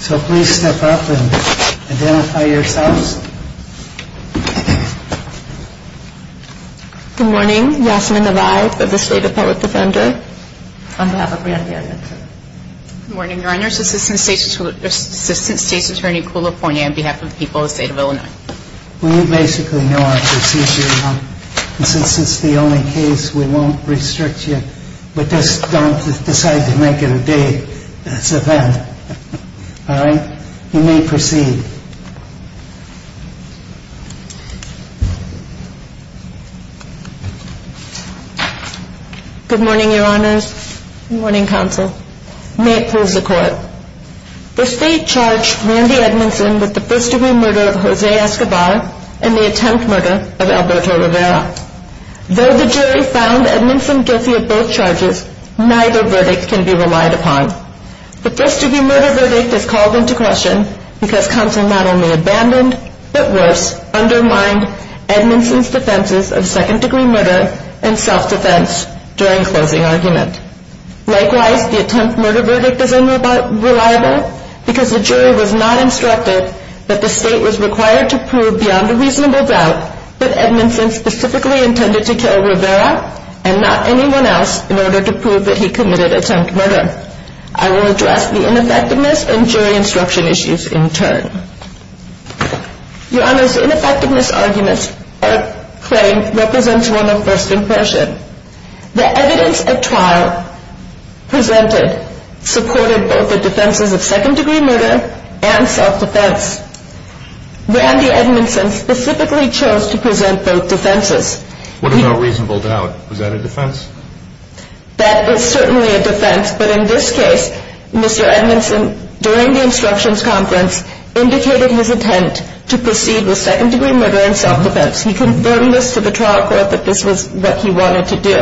So please step up and identify yourselves. Good morning, Yasmin Nevaeh of the State Appellate Defender. On behalf of Randy Edmonson. Good morning, your Honor, this is Assistant State's Attorney Kula Ponya on behalf of the people of the State of Illinois. We basically know our procedure now. And since it's the only case, we won't restrict you. But just don't decide to make it a day. It's a event. All right. You may proceed. Good morning, your Honors. Good morning, Counsel. May it please the Court. The State charged Randy Edmonson with the first-degree murder of Jose Escobar and the attempt murder of Alberto Rivera. Though the jury found Edmonson guilty of both charges, neither verdict can be relied upon. The first-degree murder verdict is called into question because counsel not only abandoned, but worse, undermined Edmonson's defenses of second-degree murder and self-defense during closing argument. Likewise, the attempt murder verdict is unreliable because the jury was not instructed that the State was required to prove beyond a reasonable doubt that Edmonson specifically intended to kill Rivera and not anyone else in order to prove that he committed attempt murder. I will address the ineffectiveness and jury instruction issues in turn. Your Honor's ineffectiveness argument or claim represents one of first impression. The evidence at trial presented supported both the defenses of second-degree murder and self-defense. Randy Edmonson specifically chose to present both defenses. What about reasonable doubt? Was that a defense? That was certainly a defense, but in this case, Mr. Edmonson, during the instructions conference, indicated his intent to proceed with second-degree murder and self-defense. He confirmed this to the trial court that this was what he wanted to do.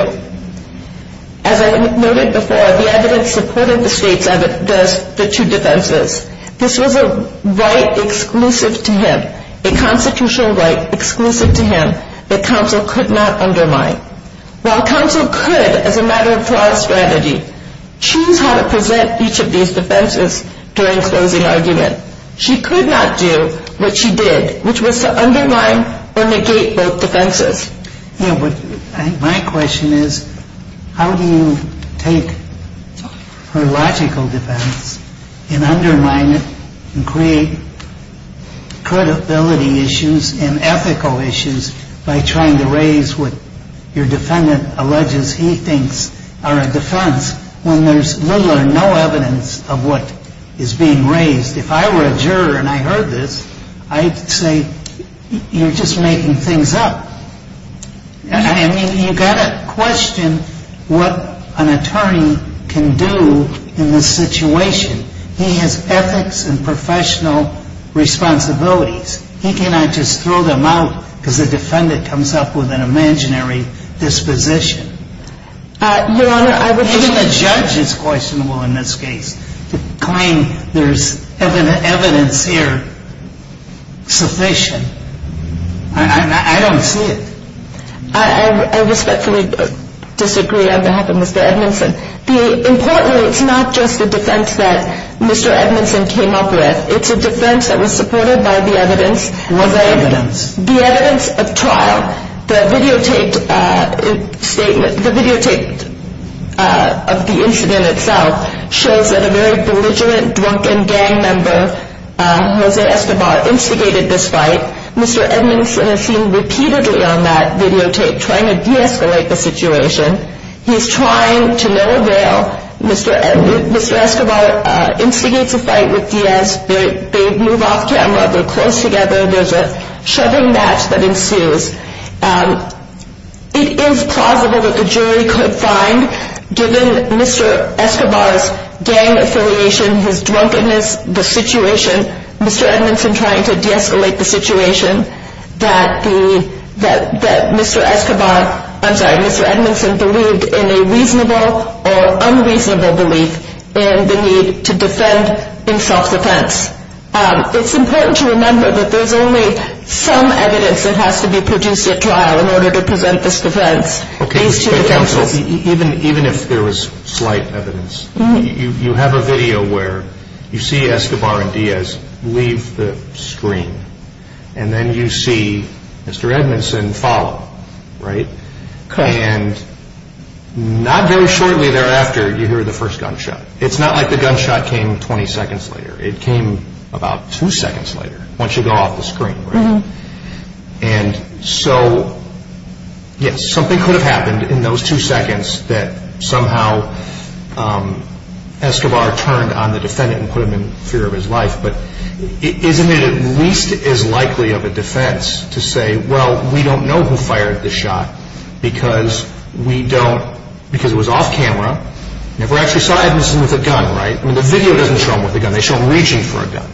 As I noted before, the evidence supported the State's evidence against the two defenses. This was a right exclusive to him, a constitutional right exclusive to him that counsel could not undermine. While counsel could, as a matter of trial strategy, choose how to present each of these defenses during closing argument, she could not do what she did, which was to undermine or negate both defenses. My question is, how do you take her logical defense and undermine it and create credibility issues and ethical issues by trying to raise what your defendant alleges he thinks are a defense when there's little or no evidence of what is being raised? If I were a juror and I heard this, I'd say, you're just making things up. I mean, you've got to question what an attorney can do in this situation. He has ethics and professional responsibilities. He cannot just throw them out because the defendant comes up with an imaginary disposition. Even the judge is questionable in this case. To claim there's evidence here sufficient, I don't see it. I respectfully disagree on behalf of Mr. Edmondson. Importantly, it's not just the defense that Mr. Edmondson came up with. It's a defense that was supported by the evidence. What evidence? The evidence of trial. The videotaped statement, the videotaped of the incident itself, shows that a very belligerent, drunken gang member, Jose Escobar, instigated this fight. Mr. Edmondson is seen repeatedly on that videotape trying to de-escalate the situation. He's trying to no avail. Mr. Escobar instigates a fight with Diaz. They move off camera. They're close together. There's a shoving match that ensues. It is plausible that the jury could find, given Mr. Escobar's gang affiliation, his drunkenness, the situation, Mr. Edmondson trying to de-escalate the situation, that Mr. Escobar, I'm sorry, Mr. Edmondson believed in a reasonable or unreasonable belief in the need to defend in self-defense. It's important to remember that there's only some evidence that has to be produced at trial in order to present this defense. Okay. Counsel, even if there was slight evidence, you have a video where you see Escobar and Diaz leave the screen, and then you see Mr. Edmondson follow, right? Correct. And not very shortly thereafter, you hear the first gunshot. It's not like the gunshot came 20 seconds later. It came about two seconds later, once you go off the screen, right? And so, yes, something could have happened in those two seconds that somehow Escobar turned on the defendant and put him in fear of his life, but isn't it at least as likely of a defense to say, well, we don't know who fired the shot because we don't, because it was off camera, and if we actually saw Edmondson with a gun, right, I mean, the video doesn't show him with a gun. They show him reaching for a gun.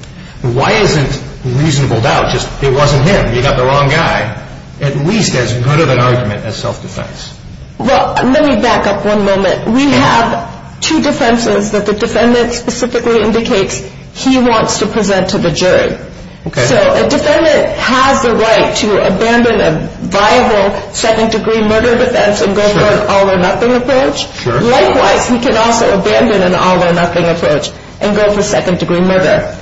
Why isn't reasonable doubt just, it wasn't him, you got the wrong guy, at least as good of an argument as self-defense? Well, let me back up one moment. We have two defenses that the defendant specifically indicates he wants to present to the jury. So a defendant has the right to abandon a viable second-degree murder defense and go for an all-or-nothing approach. Likewise, he can also abandon an all-or-nothing approach and go for second-degree murder.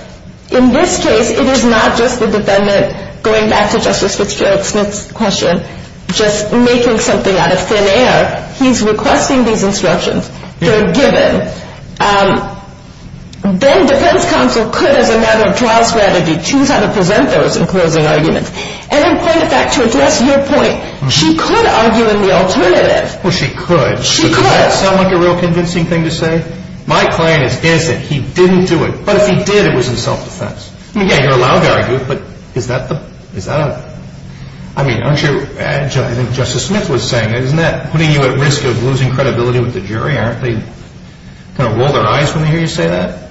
In this case, it is not just the defendant, going back to Justice Fitzgerald's question, just making something out of thin air. He's requesting these instructions. They're given. Then defense counsel could, as a matter of trial strategy, choose how to present those in closing arguments. And in point of fact, to address your point, she could argue in the alternative. Well, she could. She could. Does that sound like a real convincing thing to say? My claim is, is that he didn't do it. But if he did, it was in self-defense. I mean, yeah, you're allowed to argue it, but is that a, I mean, aren't you, I think Justice Smith was saying it, isn't that putting you at risk of losing credibility with the jury? Aren't they going to roll their eyes when they hear you say that?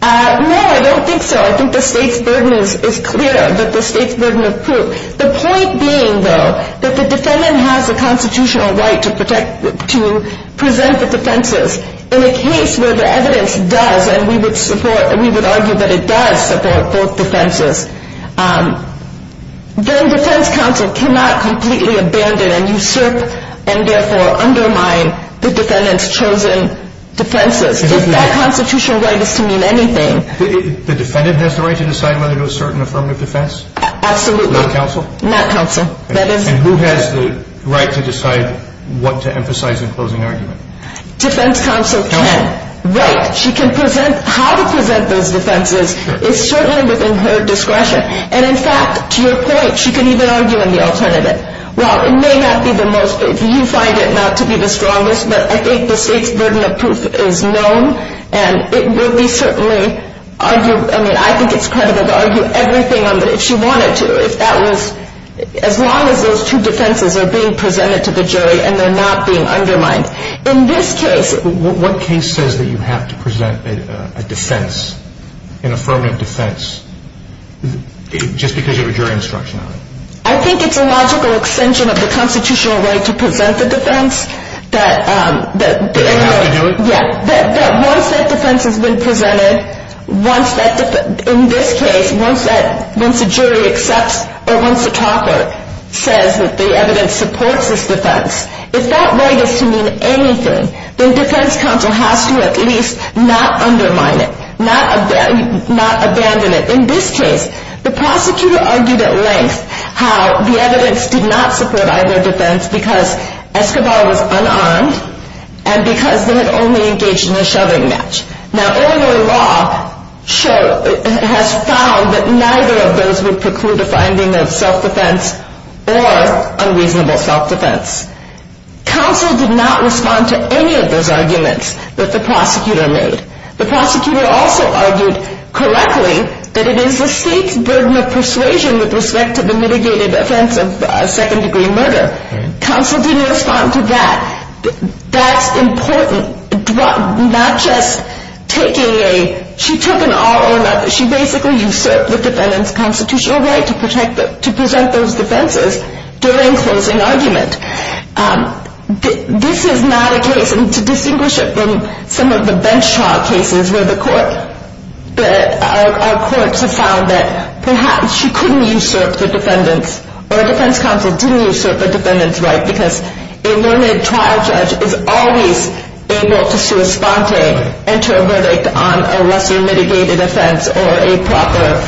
No, I don't think so. I think the state's burden is clear, that the state's burden of proof. The point being, though, that the defendant has a constitutional right to present the defenses. In a case where the evidence does, and we would support, we would argue that it does support both defenses, then defense counsel cannot completely abandon and usurp and therefore undermine the defendant's chosen defenses. If that constitutional right is to mean anything. The defendant has the right to decide whether to assert an affirmative defense? Absolutely. Not counsel? Not counsel, that is. And who has the right to decide what to emphasize in closing argument? Defense counsel can. Counsel? Right. She can present, how to present those defenses is certainly within her discretion. And in fact, to your point, she can even argue in the alternative. While it may not be the most, if you find it not to be the strongest, but I think the state's burden of proof is known, and it would be certainly, I mean, I think it's credible to argue everything, if she wanted to, as long as those two defenses are being presented to the jury and they're not being undermined. In this case. What case says that you have to present a defense, an affirmative defense, just because you have a jury instruction on it? I think it's a logical extension of the constitutional right to present the defense. That you have to do it? Yeah. Once that defense has been presented, once that defense, in this case, once a jury accepts or once a talker says that the evidence supports this defense, if that right is to mean anything, then defense counsel has to at least not undermine it, not abandon it. In this case, the prosecutor argued at length how the evidence did not support either defense because Escobar was unarmed and because they had only engaged in a shoving match. Now, earlier law has found that neither of those would preclude a finding of self-defense or unreasonable self-defense. Counsel did not respond to any of those arguments that the prosecutor made. The prosecutor also argued correctly that it is the state's burden of persuasion with respect to the mitigated offense of second-degree murder. Counsel didn't respond to that. That's important, not just taking a – she took an all-or-nother. She basically usurped the defendant's constitutional right to present those defenses during closing argument. This is not a case, and to distinguish it from some of the bench trial cases where our courts have found that perhaps she couldn't usurp the defendant's or defense counsel didn't usurp the defendant's right because a limited trial judge is always able to sui sponte, enter a verdict on a lesser mitigated offense or a proper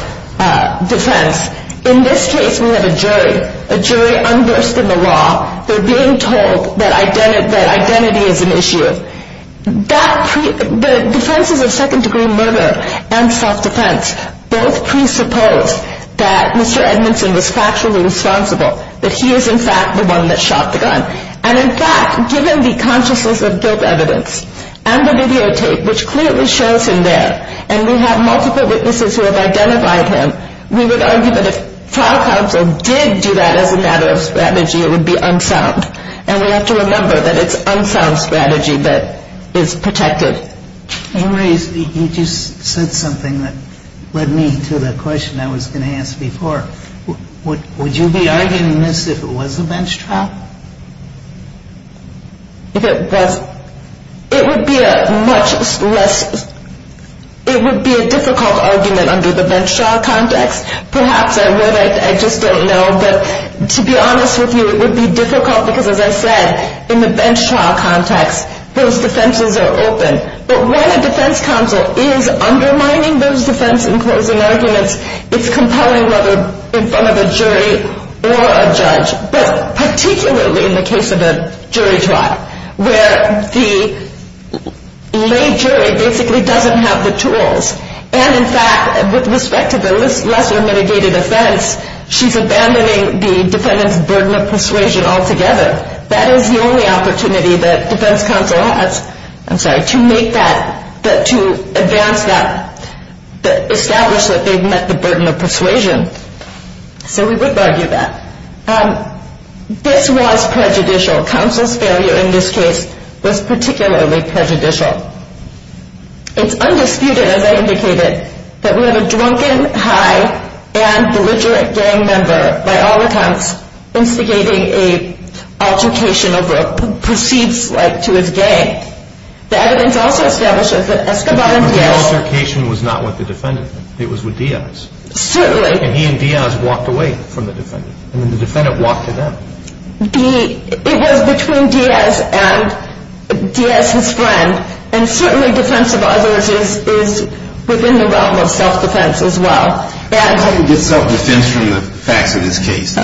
defense. In this case, we have a jury, a jury unversed in the law. They're being told that identity is an issue. The defenses of second-degree murder and self-defense both presuppose that Mr. Edmondson was factually responsible, that he is in fact the one that shot the gun. And in fact, given the consciousness of guilt evidence and the videotape, which clearly shows him there, and we have multiple witnesses who have identified him, we would argue that if trial counsel did do that as a matter of strategy, it would be unsound. And we have to remember that it's unsound strategy that is protected. You raised, you just said something that led me to the question I was going to ask before. Would you be arguing this if it was a bench trial? If it was, it would be a much less, it would be a difficult argument under the bench trial context. Perhaps I would, I just don't know. But to be honest with you, it would be difficult because, as I said, in the bench trial context, those defenses are open. But when a defense counsel is undermining those defense and closing arguments, it's compelling whether in front of a jury or a judge, but particularly in the case of a jury trial where the lay jury basically doesn't have the tools. And in fact, with respect to the lesser mitigated offense, she's abandoning the defendant's burden of persuasion altogether. That is the only opportunity that defense counsel has, I'm sorry, to make that, to advance that, establish that they've met the burden of persuasion. So we would argue that. This was prejudicial. Counsel's failure in this case was particularly prejudicial. It's undisputed, as I indicated, that we have a drunken, high, and belligerent gang member by all accounts instigating an altercation over a perceived slight to his gang. The evidence also establishes that Escobar and Diaz- The altercation was not with the defendant. It was with Diaz. Certainly. And he and Diaz walked away from the defendant. And then the defendant walked to them. It was between Diaz and Diaz's friend. And certainly defense of others is within the realm of self-defense as well. How do you get self-defense from the facts of this case? The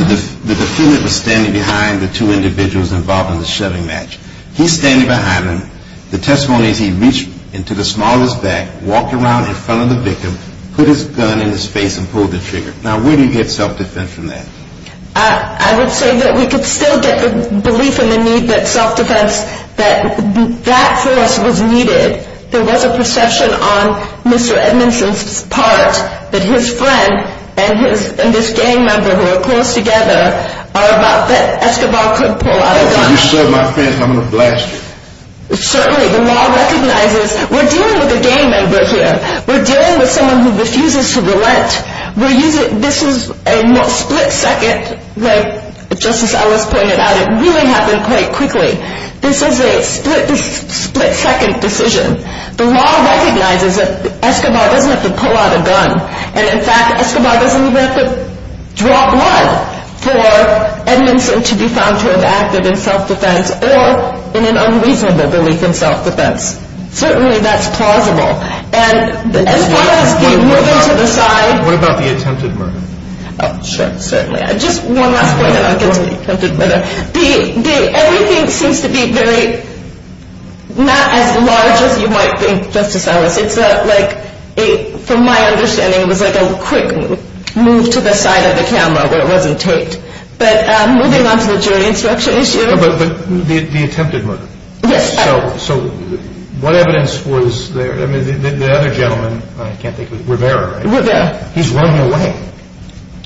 defendant was standing behind the two individuals involved in the shoving match. He's standing behind them. The testimony is he reached into the smallest back, walked around in front of the victim, put his gun in his face, and pulled the trigger. Now, where do you get self-defense from that? I would say that we could still get the belief in the need that self-defense, that that force was needed. There was a perception on Mr. Edmondson's part that his friend and this gang member who are close together are about that Escobar could pull out a gun. If you shove my friend, I'm going to blast you. Certainly. The law recognizes we're dealing with a gang member here. We're dealing with someone who refuses to relent. This is a split-second, like Justice Ellis pointed out, it really happened quite quickly. This is a split-second decision. The law recognizes that Escobar doesn't have to pull out a gun, and in fact Escobar doesn't even have to draw blood for Edmondson to be found to have acted in self-defense or in an unreasonable belief in self-defense. Certainly that's plausible. As far as the moving to the side. What about the attempted murder? Sure, certainly. Just one last point, and I'll get to the attempted murder. Everything seems to be very, not as large as you might think, Justice Ellis. It's like, from my understanding, it was like a quick move to the side of the camera where it wasn't taped. But moving on to the jury instruction issue. But the attempted murder. Yes. So what evidence was there? The other gentleman, I can't think of his name, Rivera, right? Rivera. He's running away.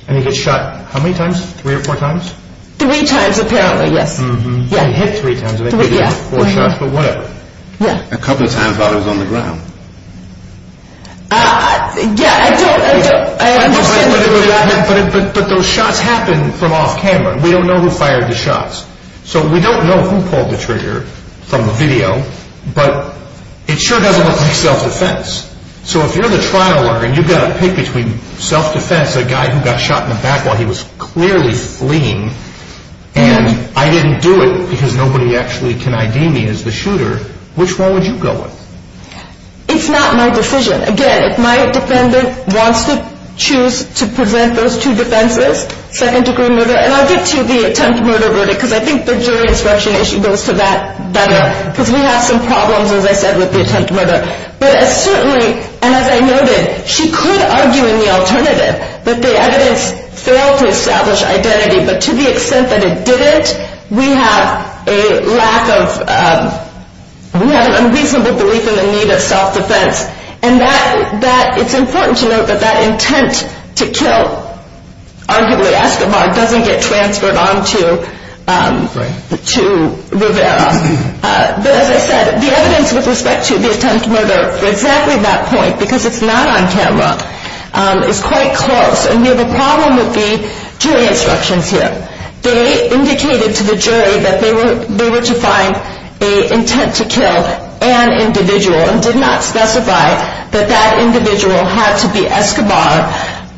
And he gets shot how many times? Three or four times? Three times apparently, yes. He got hit three times. Four shots, but whatever. A couple of times while he was on the ground. Yeah, I don't understand. But those shots happened from off camera. We don't know who fired the shots. So we don't know who pulled the trigger from the video, but it sure doesn't look like self-defense. So if you're the trial lawyer and you've got to pick between self-defense, a guy who got shot in the back while he was clearly fleeing, and I didn't do it because nobody actually can ID me as the shooter, which one would you go with? It's not my decision. Again, if my defendant wants to choose to present those two defenses, second-degree murder, and I'll get to the attempt murder verdict because I think the jury instruction issue goes to that better because we have some problems, as I said, with the attempt murder. But certainly, and as I noted, she could argue in the alternative that the evidence failed to establish identity, but to the extent that it didn't, we have a lack of unreasonable belief in the need of self-defense. And it's important to note that that intent to kill, arguably Escobar, doesn't get transferred on to Rivera. But as I said, the evidence with respect to the attempt murder for exactly that point, because it's not on camera, is quite close. And the problem would be jury instructions here. They indicated to the jury that they were to find an intent to kill an individual and did not specify that that individual had to be Escobar,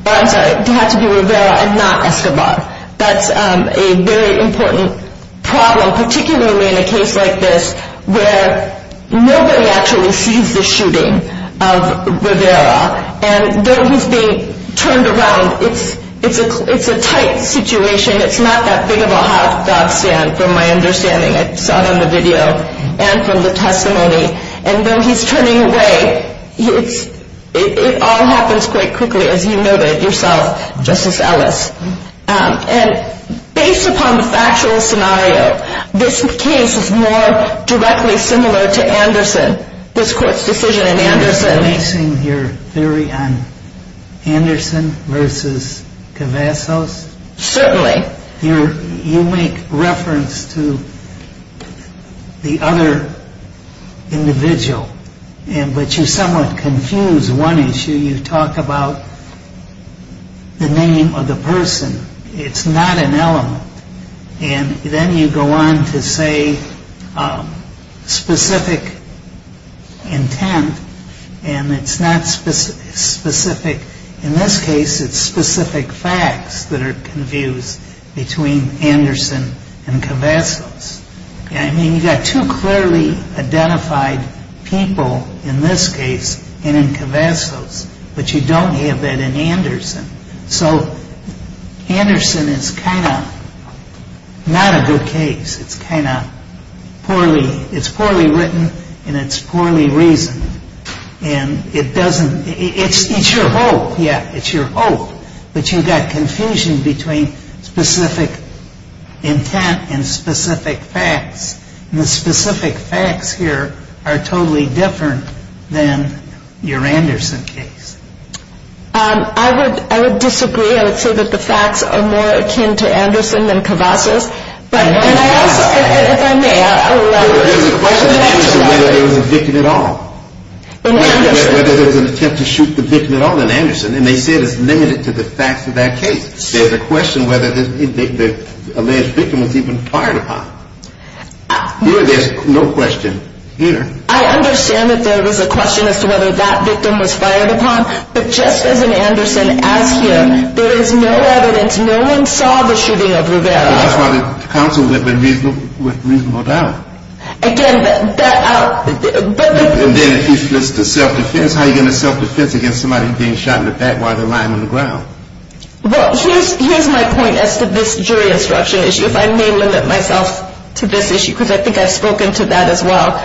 or I'm sorry, had to be Rivera and not Escobar. That's a very important problem, particularly in a case like this where nobody actually sees the shooting of Rivera. And though he's being turned around, it's a tight situation. It's not that big of a hot dog stand, from my understanding. I saw it on the video and from the testimony. And though he's turning away, it all happens quite quickly, as you noted yourself, Justice Ellis. And based upon the factual scenario, this case is more directly similar to Anderson, this court's decision in Anderson. You're basing your theory on Anderson versus Cavazos? Certainly. You make reference to the other individual, but you somewhat confuse one issue. You talk about the name of the person. It's not an element. And then you go on to say specific intent, and it's not specific. In this case, it's specific facts that are confused between Anderson and Cavazos. I mean, you've got two clearly identified people in this case and in Cavazos, but you don't have that in Anderson. So Anderson is kind of not a good case. It's poorly written, and it's poorly reasoned. And it's your hope, yeah, it's your hope. But you've got confusion between specific intent and specific facts. And the specific facts here are totally different than your Anderson case. I would disagree. I would say that the facts are more akin to Anderson than Cavazos. And I also, if I may, I would like to ask a question. There's a question in Anderson whether there was a victim at all. In Anderson. Whether there was an attempt to shoot the victim at all in Anderson. And they said it's limited to the facts of that case. There's a question whether the alleged victim was even fired upon. Here there's no question. I understand that there was a question as to whether that victim was fired upon. But just as in Anderson, as here, there is no evidence. No one saw the shooting of Rivera. That's why the counsel went with reasonable doubt. Again, that out. And then if it's the self-defense, how are you going to self-defense against somebody being shot in the back while they're lying on the ground? Well, here's my point as to this jury instruction issue. If I may limit myself to this issue because I think I've spoken to that as well.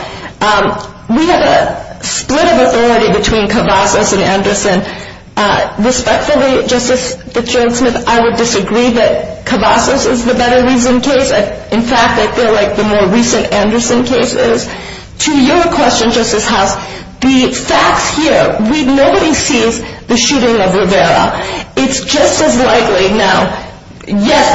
We have a split of authority between Cavazos and Anderson. Respectfully, Justice Fitzgerald-Smith, I would disagree that Cavazos is the better reasoned case. In fact, I feel like the more recent Anderson case is. To your question, Justice House, the facts here, nobody sees the shooting of Rivera. It's just as likely. Now, yes,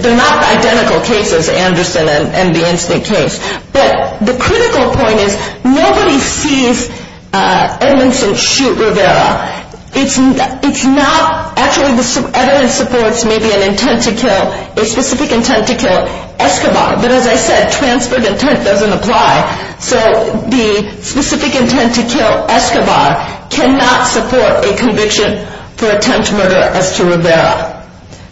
they're not identical cases, Anderson and the instant case. But the critical point is nobody sees Edmondson shoot Rivera. It's not actually the evidence supports maybe an intent to kill, a specific intent to kill Escobar. But as I said, transferred intent doesn't apply. So the specific intent to kill Escobar cannot support a conviction for attempt murder as to Rivera.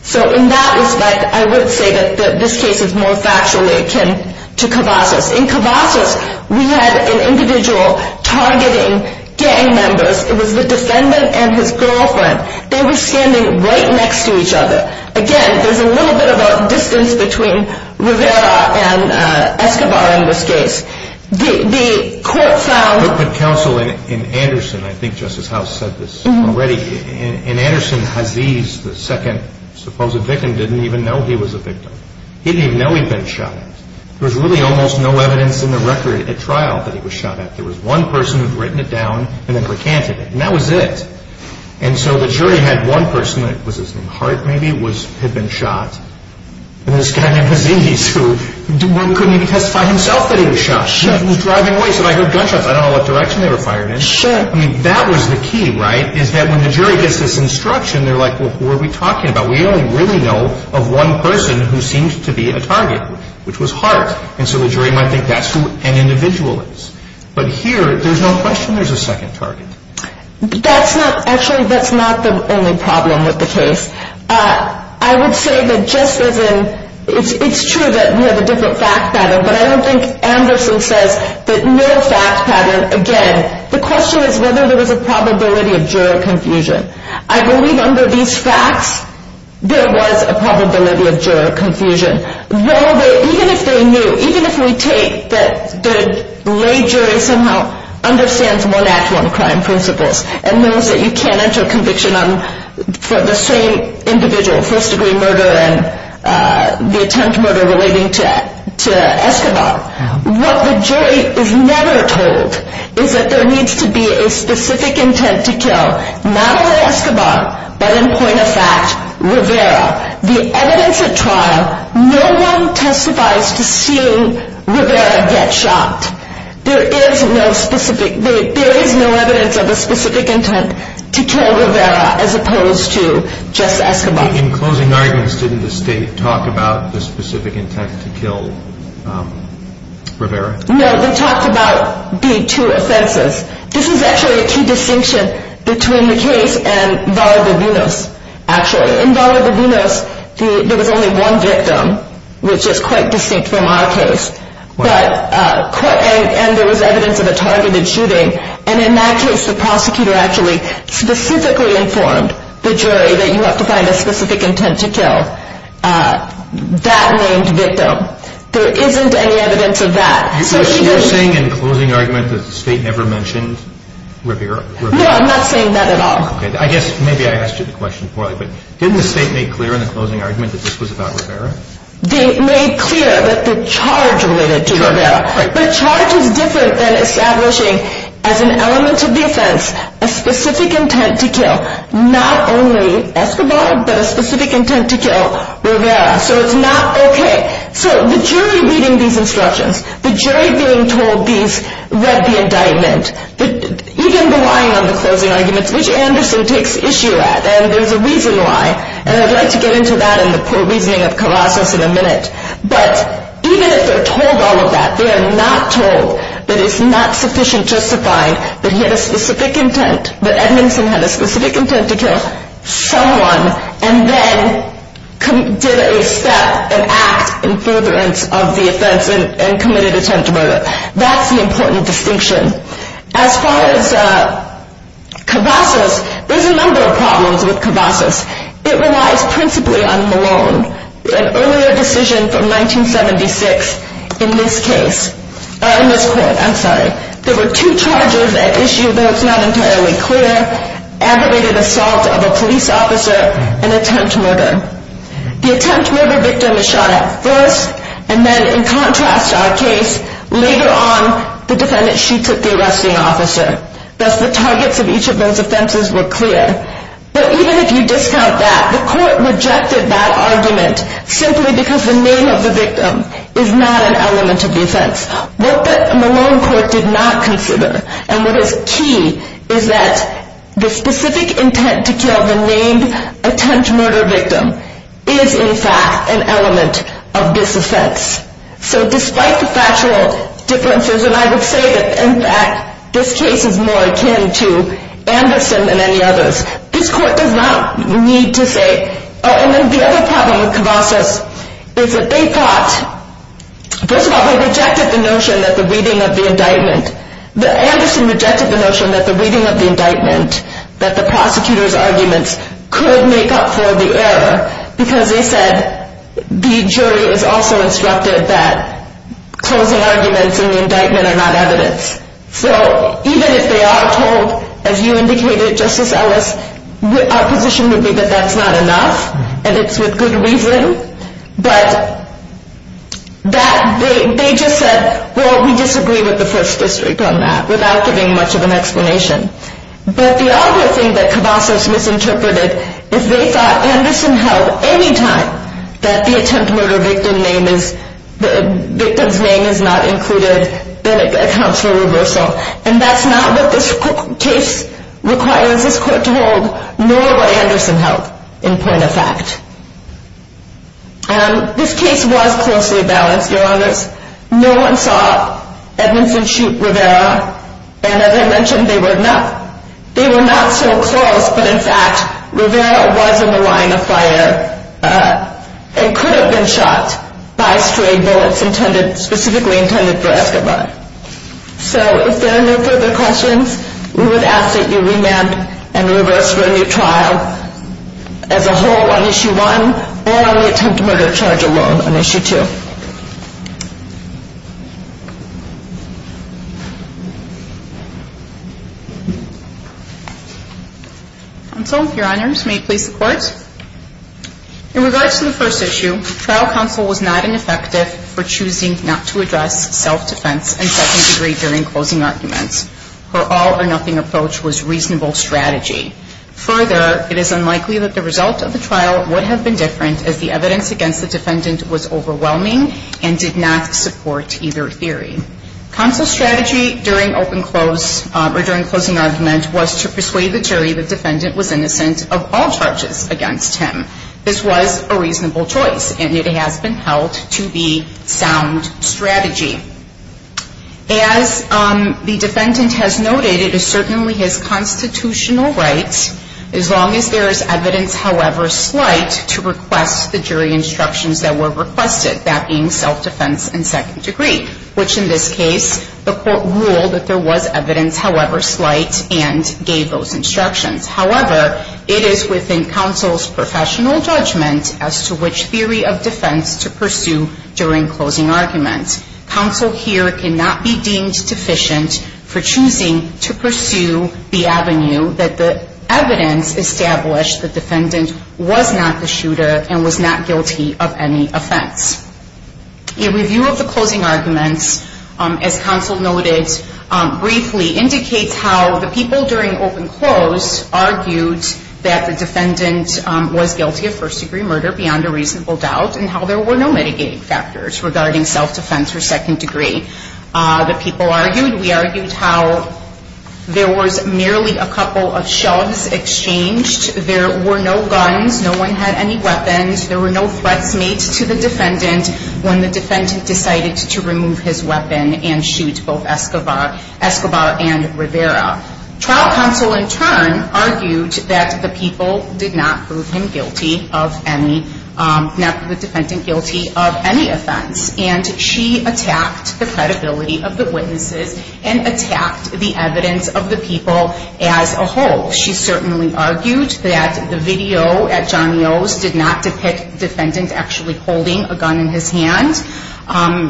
So in that respect, I would say that this case is more factually akin to Cavazos. In Cavazos, we had an individual targeting gang members. It was the defendant and his girlfriend. They were standing right next to each other. Again, there's a little bit of a distance between Rivera and Escobar in this case. The court found- But counsel in Anderson, I think Justice House said this already, in Anderson, Aziz, the second supposed victim, didn't even know he was a victim. He didn't even know he'd been shot at. There was really almost no evidence in the record at trial that he was shot at. There was one person who'd written it down and then recanted it. And that was it. And so the jury had one person, was his name Hart maybe, had been shot. And this guy named Aziz who couldn't even testify himself that he was shot. He was driving away. So I heard gunshots. I don't know what direction they were fired in. Sure. I mean, that was the key, right, is that when the jury gets this instruction, they're like, well, what are we talking about? We only really know of one person who seems to be a target, which was Hart. And so the jury might think that's who an individual is. But here, there's no question there's a second target. Actually, that's not the only problem with the case. I would say that just as in it's true that we have a different fact pattern, but I don't think Anderson says that no fact pattern again. The question is whether there was a probability of juror confusion. I believe under these facts, there was a probability of juror confusion. Well, even if they knew, even if we take that the lay jury somehow understands one-act-one-crime principles and knows that you can't enter a conviction for the same individual, first-degree murder and the attempt murder relating to Escobar, what the jury is never told is that there needs to be a specific intent to kill, not only Escobar, but in point of fact, Rivera. The evidence at trial, no one testifies to seeing Rivera get shot. There is no specific, there is no evidence of a specific intent to kill Rivera as opposed to just Escobar. In closing arguments, didn't the state talk about the specific intent to kill Rivera? No, they talked about the two offenses. This is actually a key distinction between the case and Varga-Brunos, actually. In Varga-Brunos, there was only one victim, which is quite distinct from our case, and there was evidence of a targeted shooting, and in that case, the prosecutor actually specifically informed the jury that you have to find a specific intent to kill that named victim. There isn't any evidence of that. So you're saying in closing argument that the state never mentioned Rivera? No, I'm not saying that at all. I guess maybe I asked you the question poorly, but didn't the state make clear in the closing argument that this was about Rivera? They made clear that the charge related to Rivera. The charge is different than establishing as an element of the offense a specific intent to kill not only Escobar, but a specific intent to kill Rivera. So it's not okay. So the jury reading these instructions, the jury being told these, read the indictment, even relying on the closing arguments, which Anderson takes issue at, and there's a reason why, and I'd like to get into that and the poor reasoning of Caracas in a minute, but even if they're told all of that, they are not told that it's not sufficient justifying that he had a specific intent, that Edmondson had a specific intent to kill someone and then did a step, an act, in furtherance of the offense and committed attempted murder. That's the important distinction. As far as Cavazos, there's a number of problems with Cavazos. It relies principally on Malone. An earlier decision from 1976 in this case, in this court, I'm sorry, there were two charges at issue, though it's not entirely clear, aggravated assault of a police officer and attempt murder. The attempt murder victim is shot at first, and then in contrast to our case, later on, the defendant, she took the arresting officer. Thus, the targets of each of those offenses were clear. But even if you discount that, the court rejected that argument simply because the name of the victim is not an element of the offense. What the Malone court did not consider, and what is key, is that the specific intent to kill the named attempt murder victim is, in fact, an element of this offense. So despite the factual differences, and I would say that, in fact, this case is more akin to Anderson than any others, this court does not need to say, oh, and then the other problem with Cavazos is that they thought, first of all, they rejected the notion that the reading of the indictment, that Anderson rejected the notion that the reading of the indictment, that the prosecutor's arguments could make up for the error because they said the jury is also instructed that closing arguments in the indictment are not evidence. So even if they are told, as you indicated, Justice Ellis, our position would be that that's not enough, and it's with good reason, but they just said, well, we disagree with the first district on that without giving much of an explanation. But the other thing that Cavazos misinterpreted is they thought Anderson held any time that the attempt murder victim's name is not included, then it accounts for reversal. And that's not what this case requires this court to hold, nor what Anderson held in point of fact. This case was closely balanced, Your Honors. No one saw Edmondson shoot Rivera, and as I mentioned, they were not so close. But in fact, Rivera was in the line of fire and could have been shot by stray bullets specifically intended for Escobar. So if there are no further questions, we would ask that you remand and reverse for a new trial as a whole on Issue 1 or only attempt murder charge alone on Issue 2. Counsel, Your Honors, may it please the Court. In regards to the first issue, trial counsel was not ineffective for choosing not to address self-defense and second degree during closing arguments. Her all or nothing approach was reasonable strategy. Further, it is unlikely that the result of the trial would have been different as the evidence against the defendant was overwhelming and did not support either theory. Counsel's strategy during open close or during closing argument was to persuade the jury the defendant was innocent of all charges against him. This was a reasonable choice, and it has been held to be sound strategy. As the defendant has noted, it is certainly his constitutional right, as long as there is evidence, however slight, to request the jury instructions that were requested, that being self-defense and second degree, which in this case the Court ruled that there was evidence, however slight, and gave those instructions. However, it is within counsel's professional judgment as to which theory of defense to pursue during closing arguments. Counsel here cannot be deemed deficient for choosing to pursue the avenue that the evidence established the defendant was not the shooter and was not guilty of any offense. A review of the closing arguments, as counsel noted, briefly indicates how the people during open close argued that the defendant was guilty of first degree murder, beyond a reasonable doubt, and how there were no mitigating factors regarding self-defense or second degree. The people argued, we argued, how there was merely a couple of shoves exchanged, there were no guns, no one had any weapons, there were no threats made to the defendant when the defendant decided to remove his weapon and shoot both Escobar and Rivera. Trial counsel in turn argued that the people did not prove him guilty of any, not the defendant guilty of any offense, and she attacked the credibility of the witnesses and attacked the evidence of the people as a whole. She certainly argued that the video at Johnny O's did not depict the defendant actually holding a gun in his hand.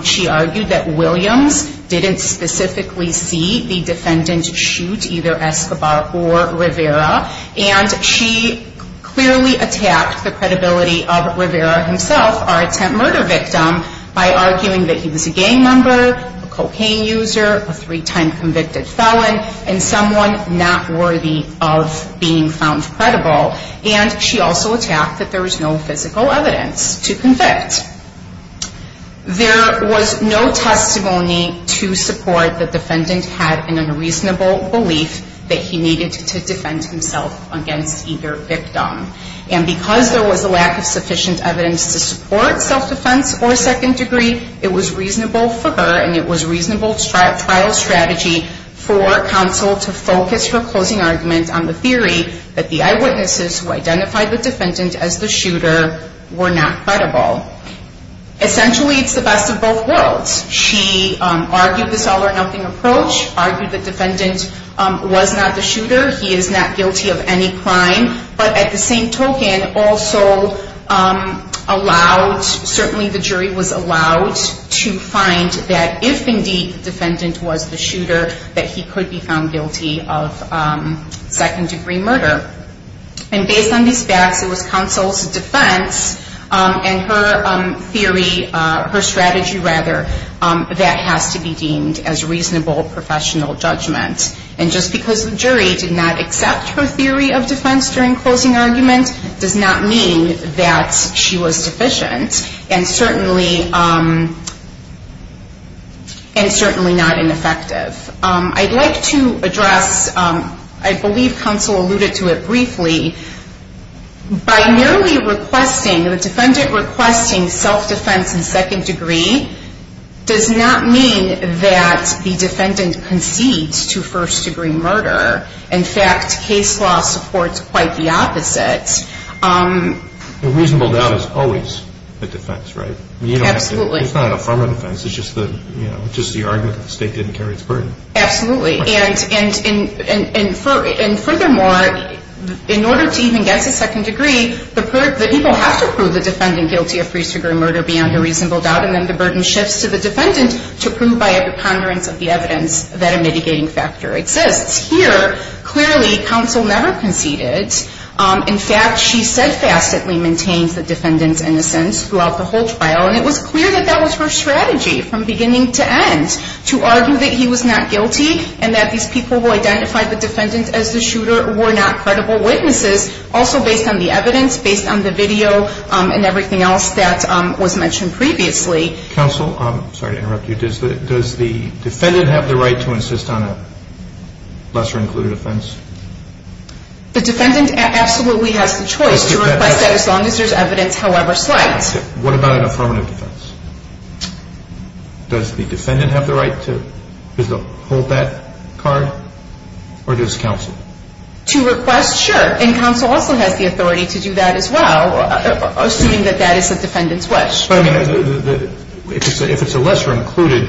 She argued that Williams didn't specifically see the defendant shoot either Escobar or Rivera, and she clearly attacked the credibility of Rivera himself, our attempt murder victim, by arguing that he was a gang member, a cocaine user, a three-time convicted felon, and someone not worthy of being found credible. And she also attacked that there was no physical evidence to convict. There was no testimony to support the defendant had an unreasonable belief that he needed to defend himself against either victim. And because there was a lack of sufficient evidence to support self-defense or second degree, it was reasonable for her and it was a reasonable trial strategy for counsel to focus her closing argument on the theory that the eyewitnesses who identified the defendant as the shooter were not credible. Essentially, it's the best of both worlds. She argued this all-or-nothing approach, argued the defendant was not the shooter, he is not guilty of any crime, but at the same token also allowed, certainly the jury was allowed to find that if indeed the defendant was the shooter, that he could be found guilty of second degree murder. And based on these facts, it was counsel's defense and her theory, her strategy rather, that has to be deemed as reasonable professional judgment. And just because the jury did not accept her theory of defense during closing argument does not mean that she was deficient. And certainly not ineffective. I'd like to address, I believe counsel alluded to it briefly, by merely requesting, the defendant requesting self-defense in second degree does not mean that the defendant concedes to first degree murder. In fact, case law supports quite the opposite. A reasonable doubt is always a defense, right? Absolutely. It's not a former defense, it's just the argument that the state didn't carry its burden. Absolutely. And furthermore, in order to even get to second degree, the people have to prove the defendant guilty of first degree murder beyond a reasonable doubt, and then the burden shifts to the defendant to prove by a preponderance of the evidence that a mitigating factor exists. Here, clearly, counsel never conceded. In fact, she steadfastly maintains the defendant's innocence throughout the whole trial, and it was clear that that was her strategy from beginning to end, to argue that he was not guilty and that these people who identified the defendant as the shooter were not credible witnesses, also based on the evidence, based on the video, and everything else that was mentioned previously. Counsel, sorry to interrupt you, does the defendant have the right to insist on a lesser included offense? The defendant absolutely has the choice to request that as long as there's evidence, however slight. What about an affirmative defense? Does the defendant have the right to hold that card, or does counsel? To request, sure. And counsel also has the authority to do that as well, assuming that that is the defendant's wish. If it's a lesser included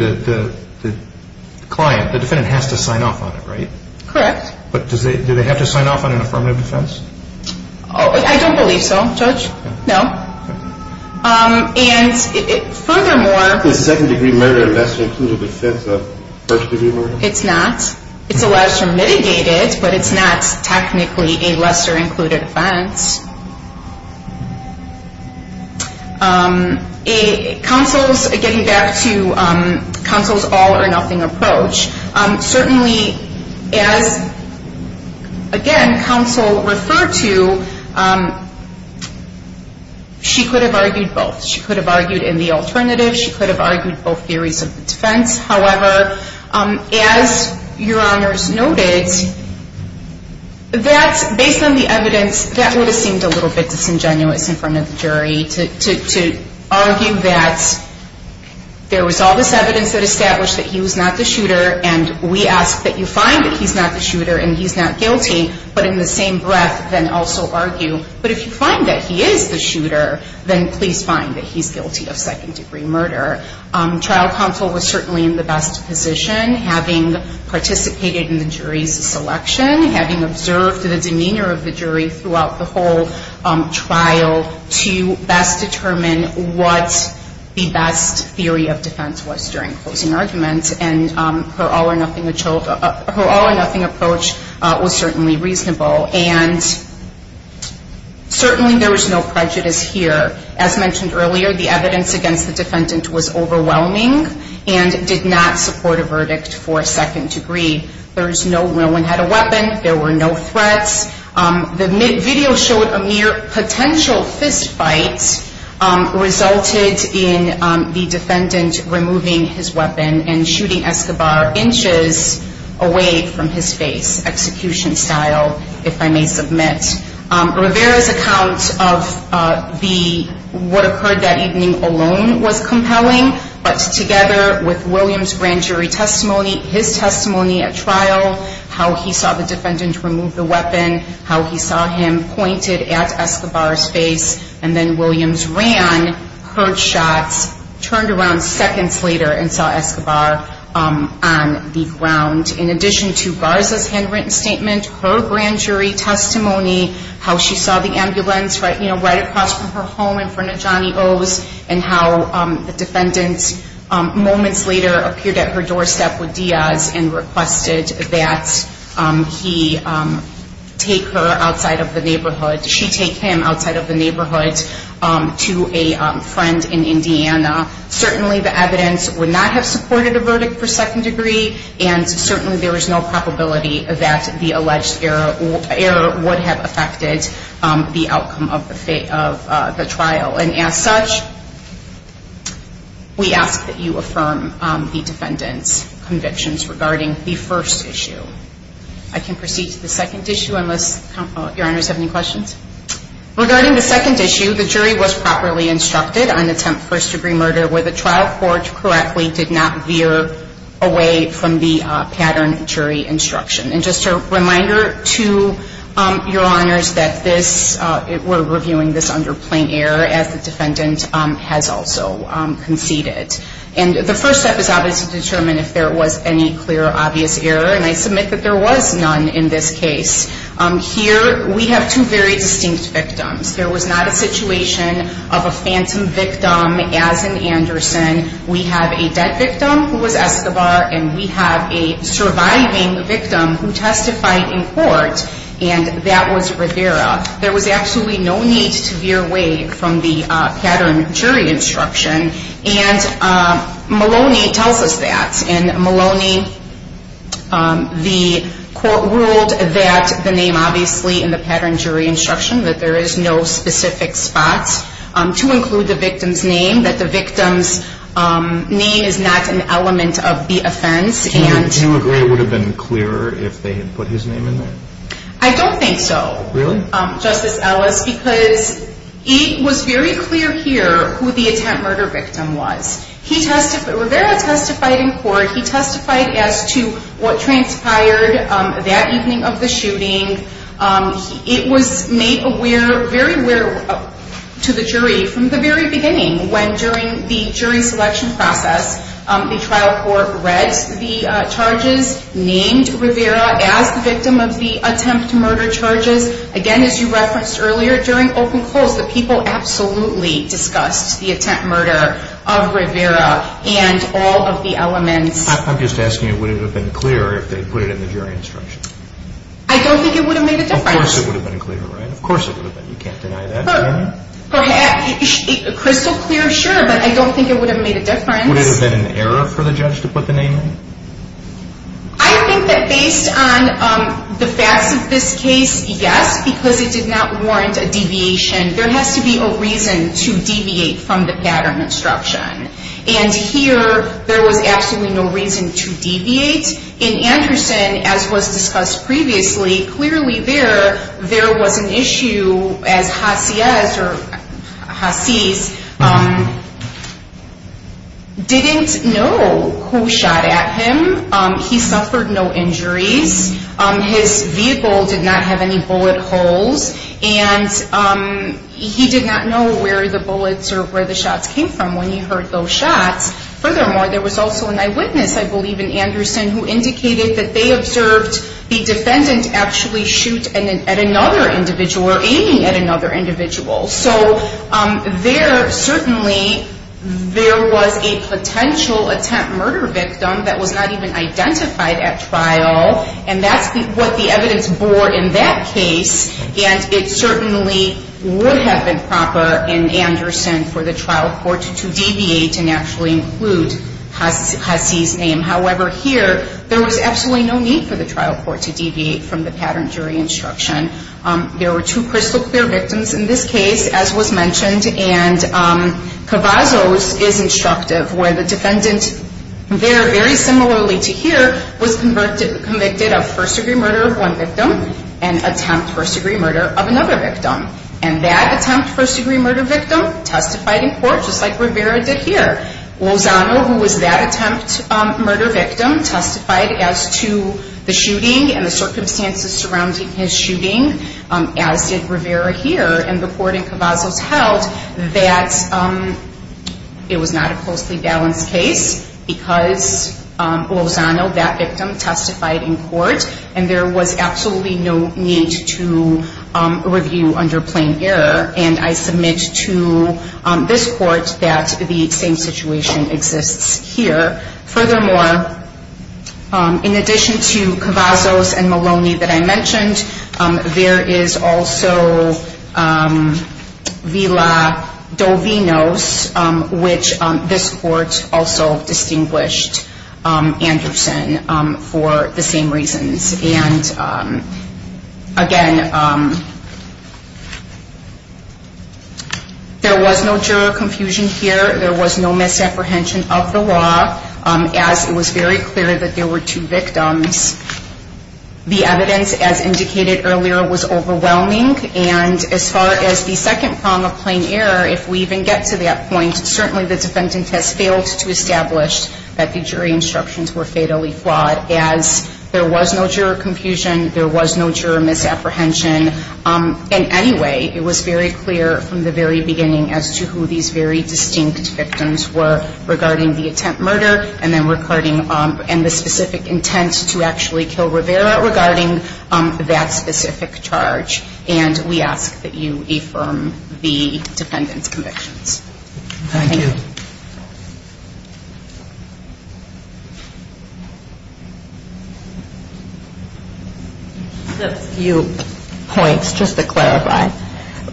client, the defendant has to sign off on it, right? Correct. But do they have to sign off on an affirmative defense? I don't believe so, Judge, no. And furthermore. Is second degree murder a lesser included offense than first degree murder? It's not. It's allowed to be mitigated, but it's not technically a lesser included offense. Counsel, getting back to counsel's all or nothing approach, certainly as, again, counsel referred to, she could have argued both. She could have argued in the alternative. She could have argued both theories of defense. However, as Your Honors noted, based on the evidence, that would have seemed a little bit disingenuous in front of the jury to argue that there was all this evidence that established that he was not the shooter, and we ask that you find that he's not the shooter and he's not guilty, but in the same breath then also argue, but if you find that he is the shooter, then please find that he's guilty of second degree murder. Trial counsel was certainly in the best position, having participated in the jury's selection, having observed the demeanor of the jury throughout the whole trial to best determine what the best theory of defense was during closing arguments, and her all or nothing approach was certainly reasonable, and certainly there was no prejudice here. As mentioned earlier, the evidence against the defendant was overwhelming and did not support a verdict for second degree. No one had a weapon. There were no threats. The video showed a mere potential fist fight resulted in the defendant removing his weapon and shooting Escobar inches away from his face, execution style, if I may submit. Rivera's account of what occurred that evening alone was compelling, but together with William's grand jury testimony, his testimony at trial, how he saw the defendant remove the weapon, how he saw him pointed at Escobar's face, and then Williams ran, heard shots, turned around seconds later and saw Escobar on the ground. In addition to Garza's handwritten statement, her grand jury testimony, how she saw the ambulance right across from her home in front of Johnny O's, and how the defendant moments later appeared at her doorstep with Diaz and requested that he take her outside of the neighborhood, she take him outside of the neighborhood to a friend in Indiana. Certainly the evidence would not have supported a verdict for second degree, and certainly there is no probability that the alleged error would have affected the outcome of the trial. And as such, we ask that you affirm the defendant's convictions regarding the first issue. I can proceed to the second issue unless your honors have any questions. Regarding the second issue, the jury was properly instructed on attempt first degree murder where the trial court correctly did not veer away from the pattern jury instruction. And just a reminder to your honors that this, we're reviewing this under plain error as the defendant has also conceded. And the first step is obviously to determine if there was any clear or obvious error, and I submit that there was none in this case. Here we have two very distinct victims. There was not a situation of a phantom victim as in Anderson. We have a dead victim who was Escobar, and we have a surviving victim who testified in court, and that was Rivera. There was absolutely no need to veer away from the pattern jury instruction, and Maloney tells us that. And Maloney, the court ruled that the name obviously in the pattern jury instruction, that there is no specific spot to include the victim's name, that the victim's name is not an element of the offense. Do you agree it would have been clearer if they had put his name in there? I don't think so. Really? Justice Ellis, because it was very clear here who the attempt murder victim was. Rivera testified in court. He testified as to what transpired that evening of the shooting. It was made very aware to the jury from the very beginning when during the jury selection process the trial court read the charges, named Rivera as the victim of the attempt murder charges. Again, as you referenced earlier, during open calls, the people absolutely discussed the attempt murder of Rivera and all of the elements. I'm just asking you, would it have been clearer if they had put it in the jury instruction? I don't think it would have made a difference. Of course it would have been clearer, right? Of course it would have been. You can't deny that. Crystal clear, sure, but I don't think it would have made a difference. Would it have been an error for the judge to put the name in? I think that based on the facts of this case, yes, because it did not warrant a deviation. There has to be a reason to deviate from the pattern instruction. And here there was absolutely no reason to deviate. In Anderson, as was discussed previously, clearly there, there was an issue as Hasise didn't know who shot at him. He suffered no injuries. His vehicle did not have any bullet holes. And he did not know where the bullets or where the shots came from when he heard those shots. Furthermore, there was also an eyewitness, I believe in Anderson, who indicated that they observed the defendant actually shoot at another individual or aiming at another individual. So there certainly there was a potential attempt murder victim that was not even identified at trial. And that's what the evidence bore in that case. And it certainly would have been proper in Anderson for the trial court to deviate and actually include Hasise's name. However, here there was absolutely no need for the trial court to deviate from the pattern jury instruction. There were two crystal clear victims in this case, as was mentioned, and Cavazos is instructive where the defendant there, very similarly to here, was convicted of first-degree murder of one victim and attempt first-degree murder of another victim. And that attempt first-degree murder victim testified in court just like Rivera did here. Lozano, who was that attempt murder victim, testified as to the shooting and the circumstances surrounding his shooting, as did Rivera here. And the court in Cavazos held that it was not a closely balanced case because Lozano, that victim, testified in court. And there was absolutely no need to review under plain error. And I submit to this court that the same situation exists here. Furthermore, in addition to Cavazos and Maloney that I mentioned, there is also Villa Dovinos, which this court also distinguished Anderson for the same reasons. And, again, there was no juror confusion here. There was no misapprehension of the law, as it was very clear that there were two victims. The evidence, as indicated earlier, was overwhelming. And as far as the second prong of plain error, if we even get to that point, certainly the defendant has failed to establish that the jury instructions were fatally flawed, as there was no juror confusion, there was no juror misapprehension. In any way, it was very clear from the very beginning as to who these very distinct victims were regarding the attempt murder and the specific intent to actually kill Rivera regarding that specific charge. And we ask that you affirm the defendant's convictions. Thank you. A few points, just to clarify.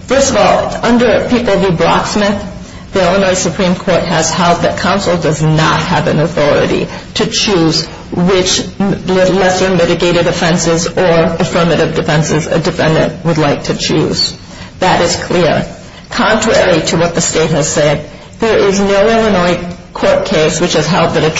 First of all, under people who blocksmith, the Illinois Supreme Court has held that counsel does not have an authority to choose which lesser mitigated offenses or affirmative defenses a defendant would like to choose. That is clear. Contrary to what the state has said, there is no Illinois court case which has held that a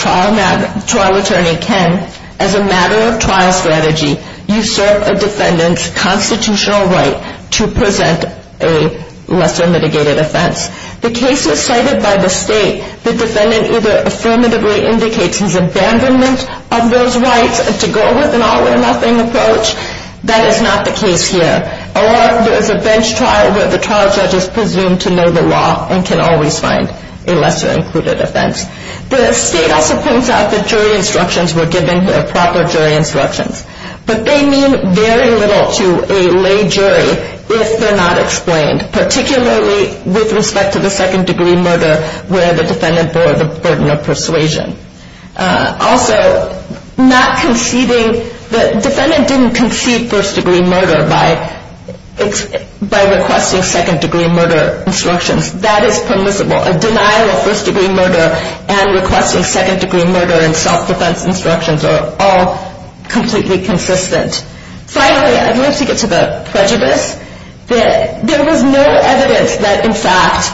trial attorney can, as a matter of trial strategy, usurp a defendant's constitutional right to present a lesser mitigated offense. The cases cited by the state, the defendant either affirmatively indicates his abandonment of those rights to go with an all or nothing approach. That is not the case here. Or there is a bench trial where the trial judge is presumed to know the law and can always find a lesser included offense. The state also points out that jury instructions were given, proper jury instructions. But they mean very little to a lay jury if they're not explained, particularly with respect to the second degree murder where the defendant bore the burden of persuasion. Also, not conceding, the defendant didn't concede first degree murder by requesting second degree murder instructions. That is permissible. A denial of first degree murder and requesting second degree murder and self-defense instructions are all completely consistent. Finally, I'd love to get to the prejudice. There was no evidence that, in fact,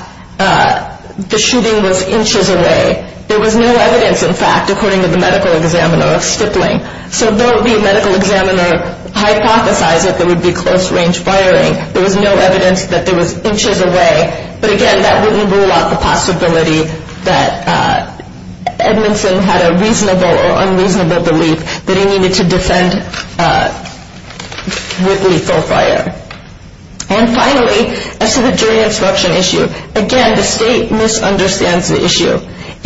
the shooting was inches away. There was no evidence, in fact, according to the medical examiner of Stippling. So though the medical examiner hypothesized that there would be close range firing, there was no evidence that there was inches away. But again, that wouldn't rule out the possibility that Edmondson had a reasonable or unreasonable belief that he needed to defend with lethal fire. And finally, as to the jury instruction issue, again, the state misunderstands the issue.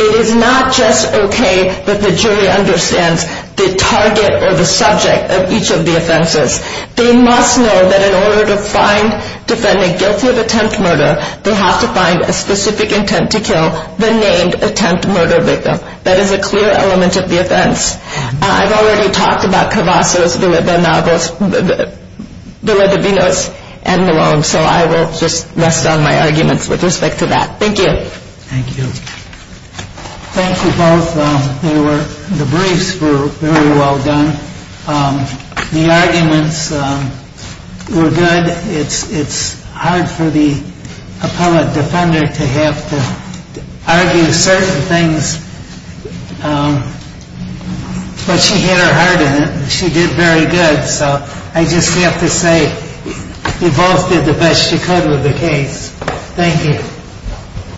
It is not just okay that the jury understands the target or the subject of each of the offenses. They must know that in order to find defendant guilty of attempt murder, they have to find a specific intent to kill the named attempt murder victim. That is a clear element of the offense. I've already talked about Cavazos, Villalobos, Villalobinos, and Malone, so I will just rest on my arguments with respect to that. Thank you. Thank you. Thank you both. The briefs were very well done. The arguments were good. It's hard for the appellate defender to have to argue certain things. But she had her heart in it, and she did very good. So I just have to say you both did the best you could with the case. Thank you.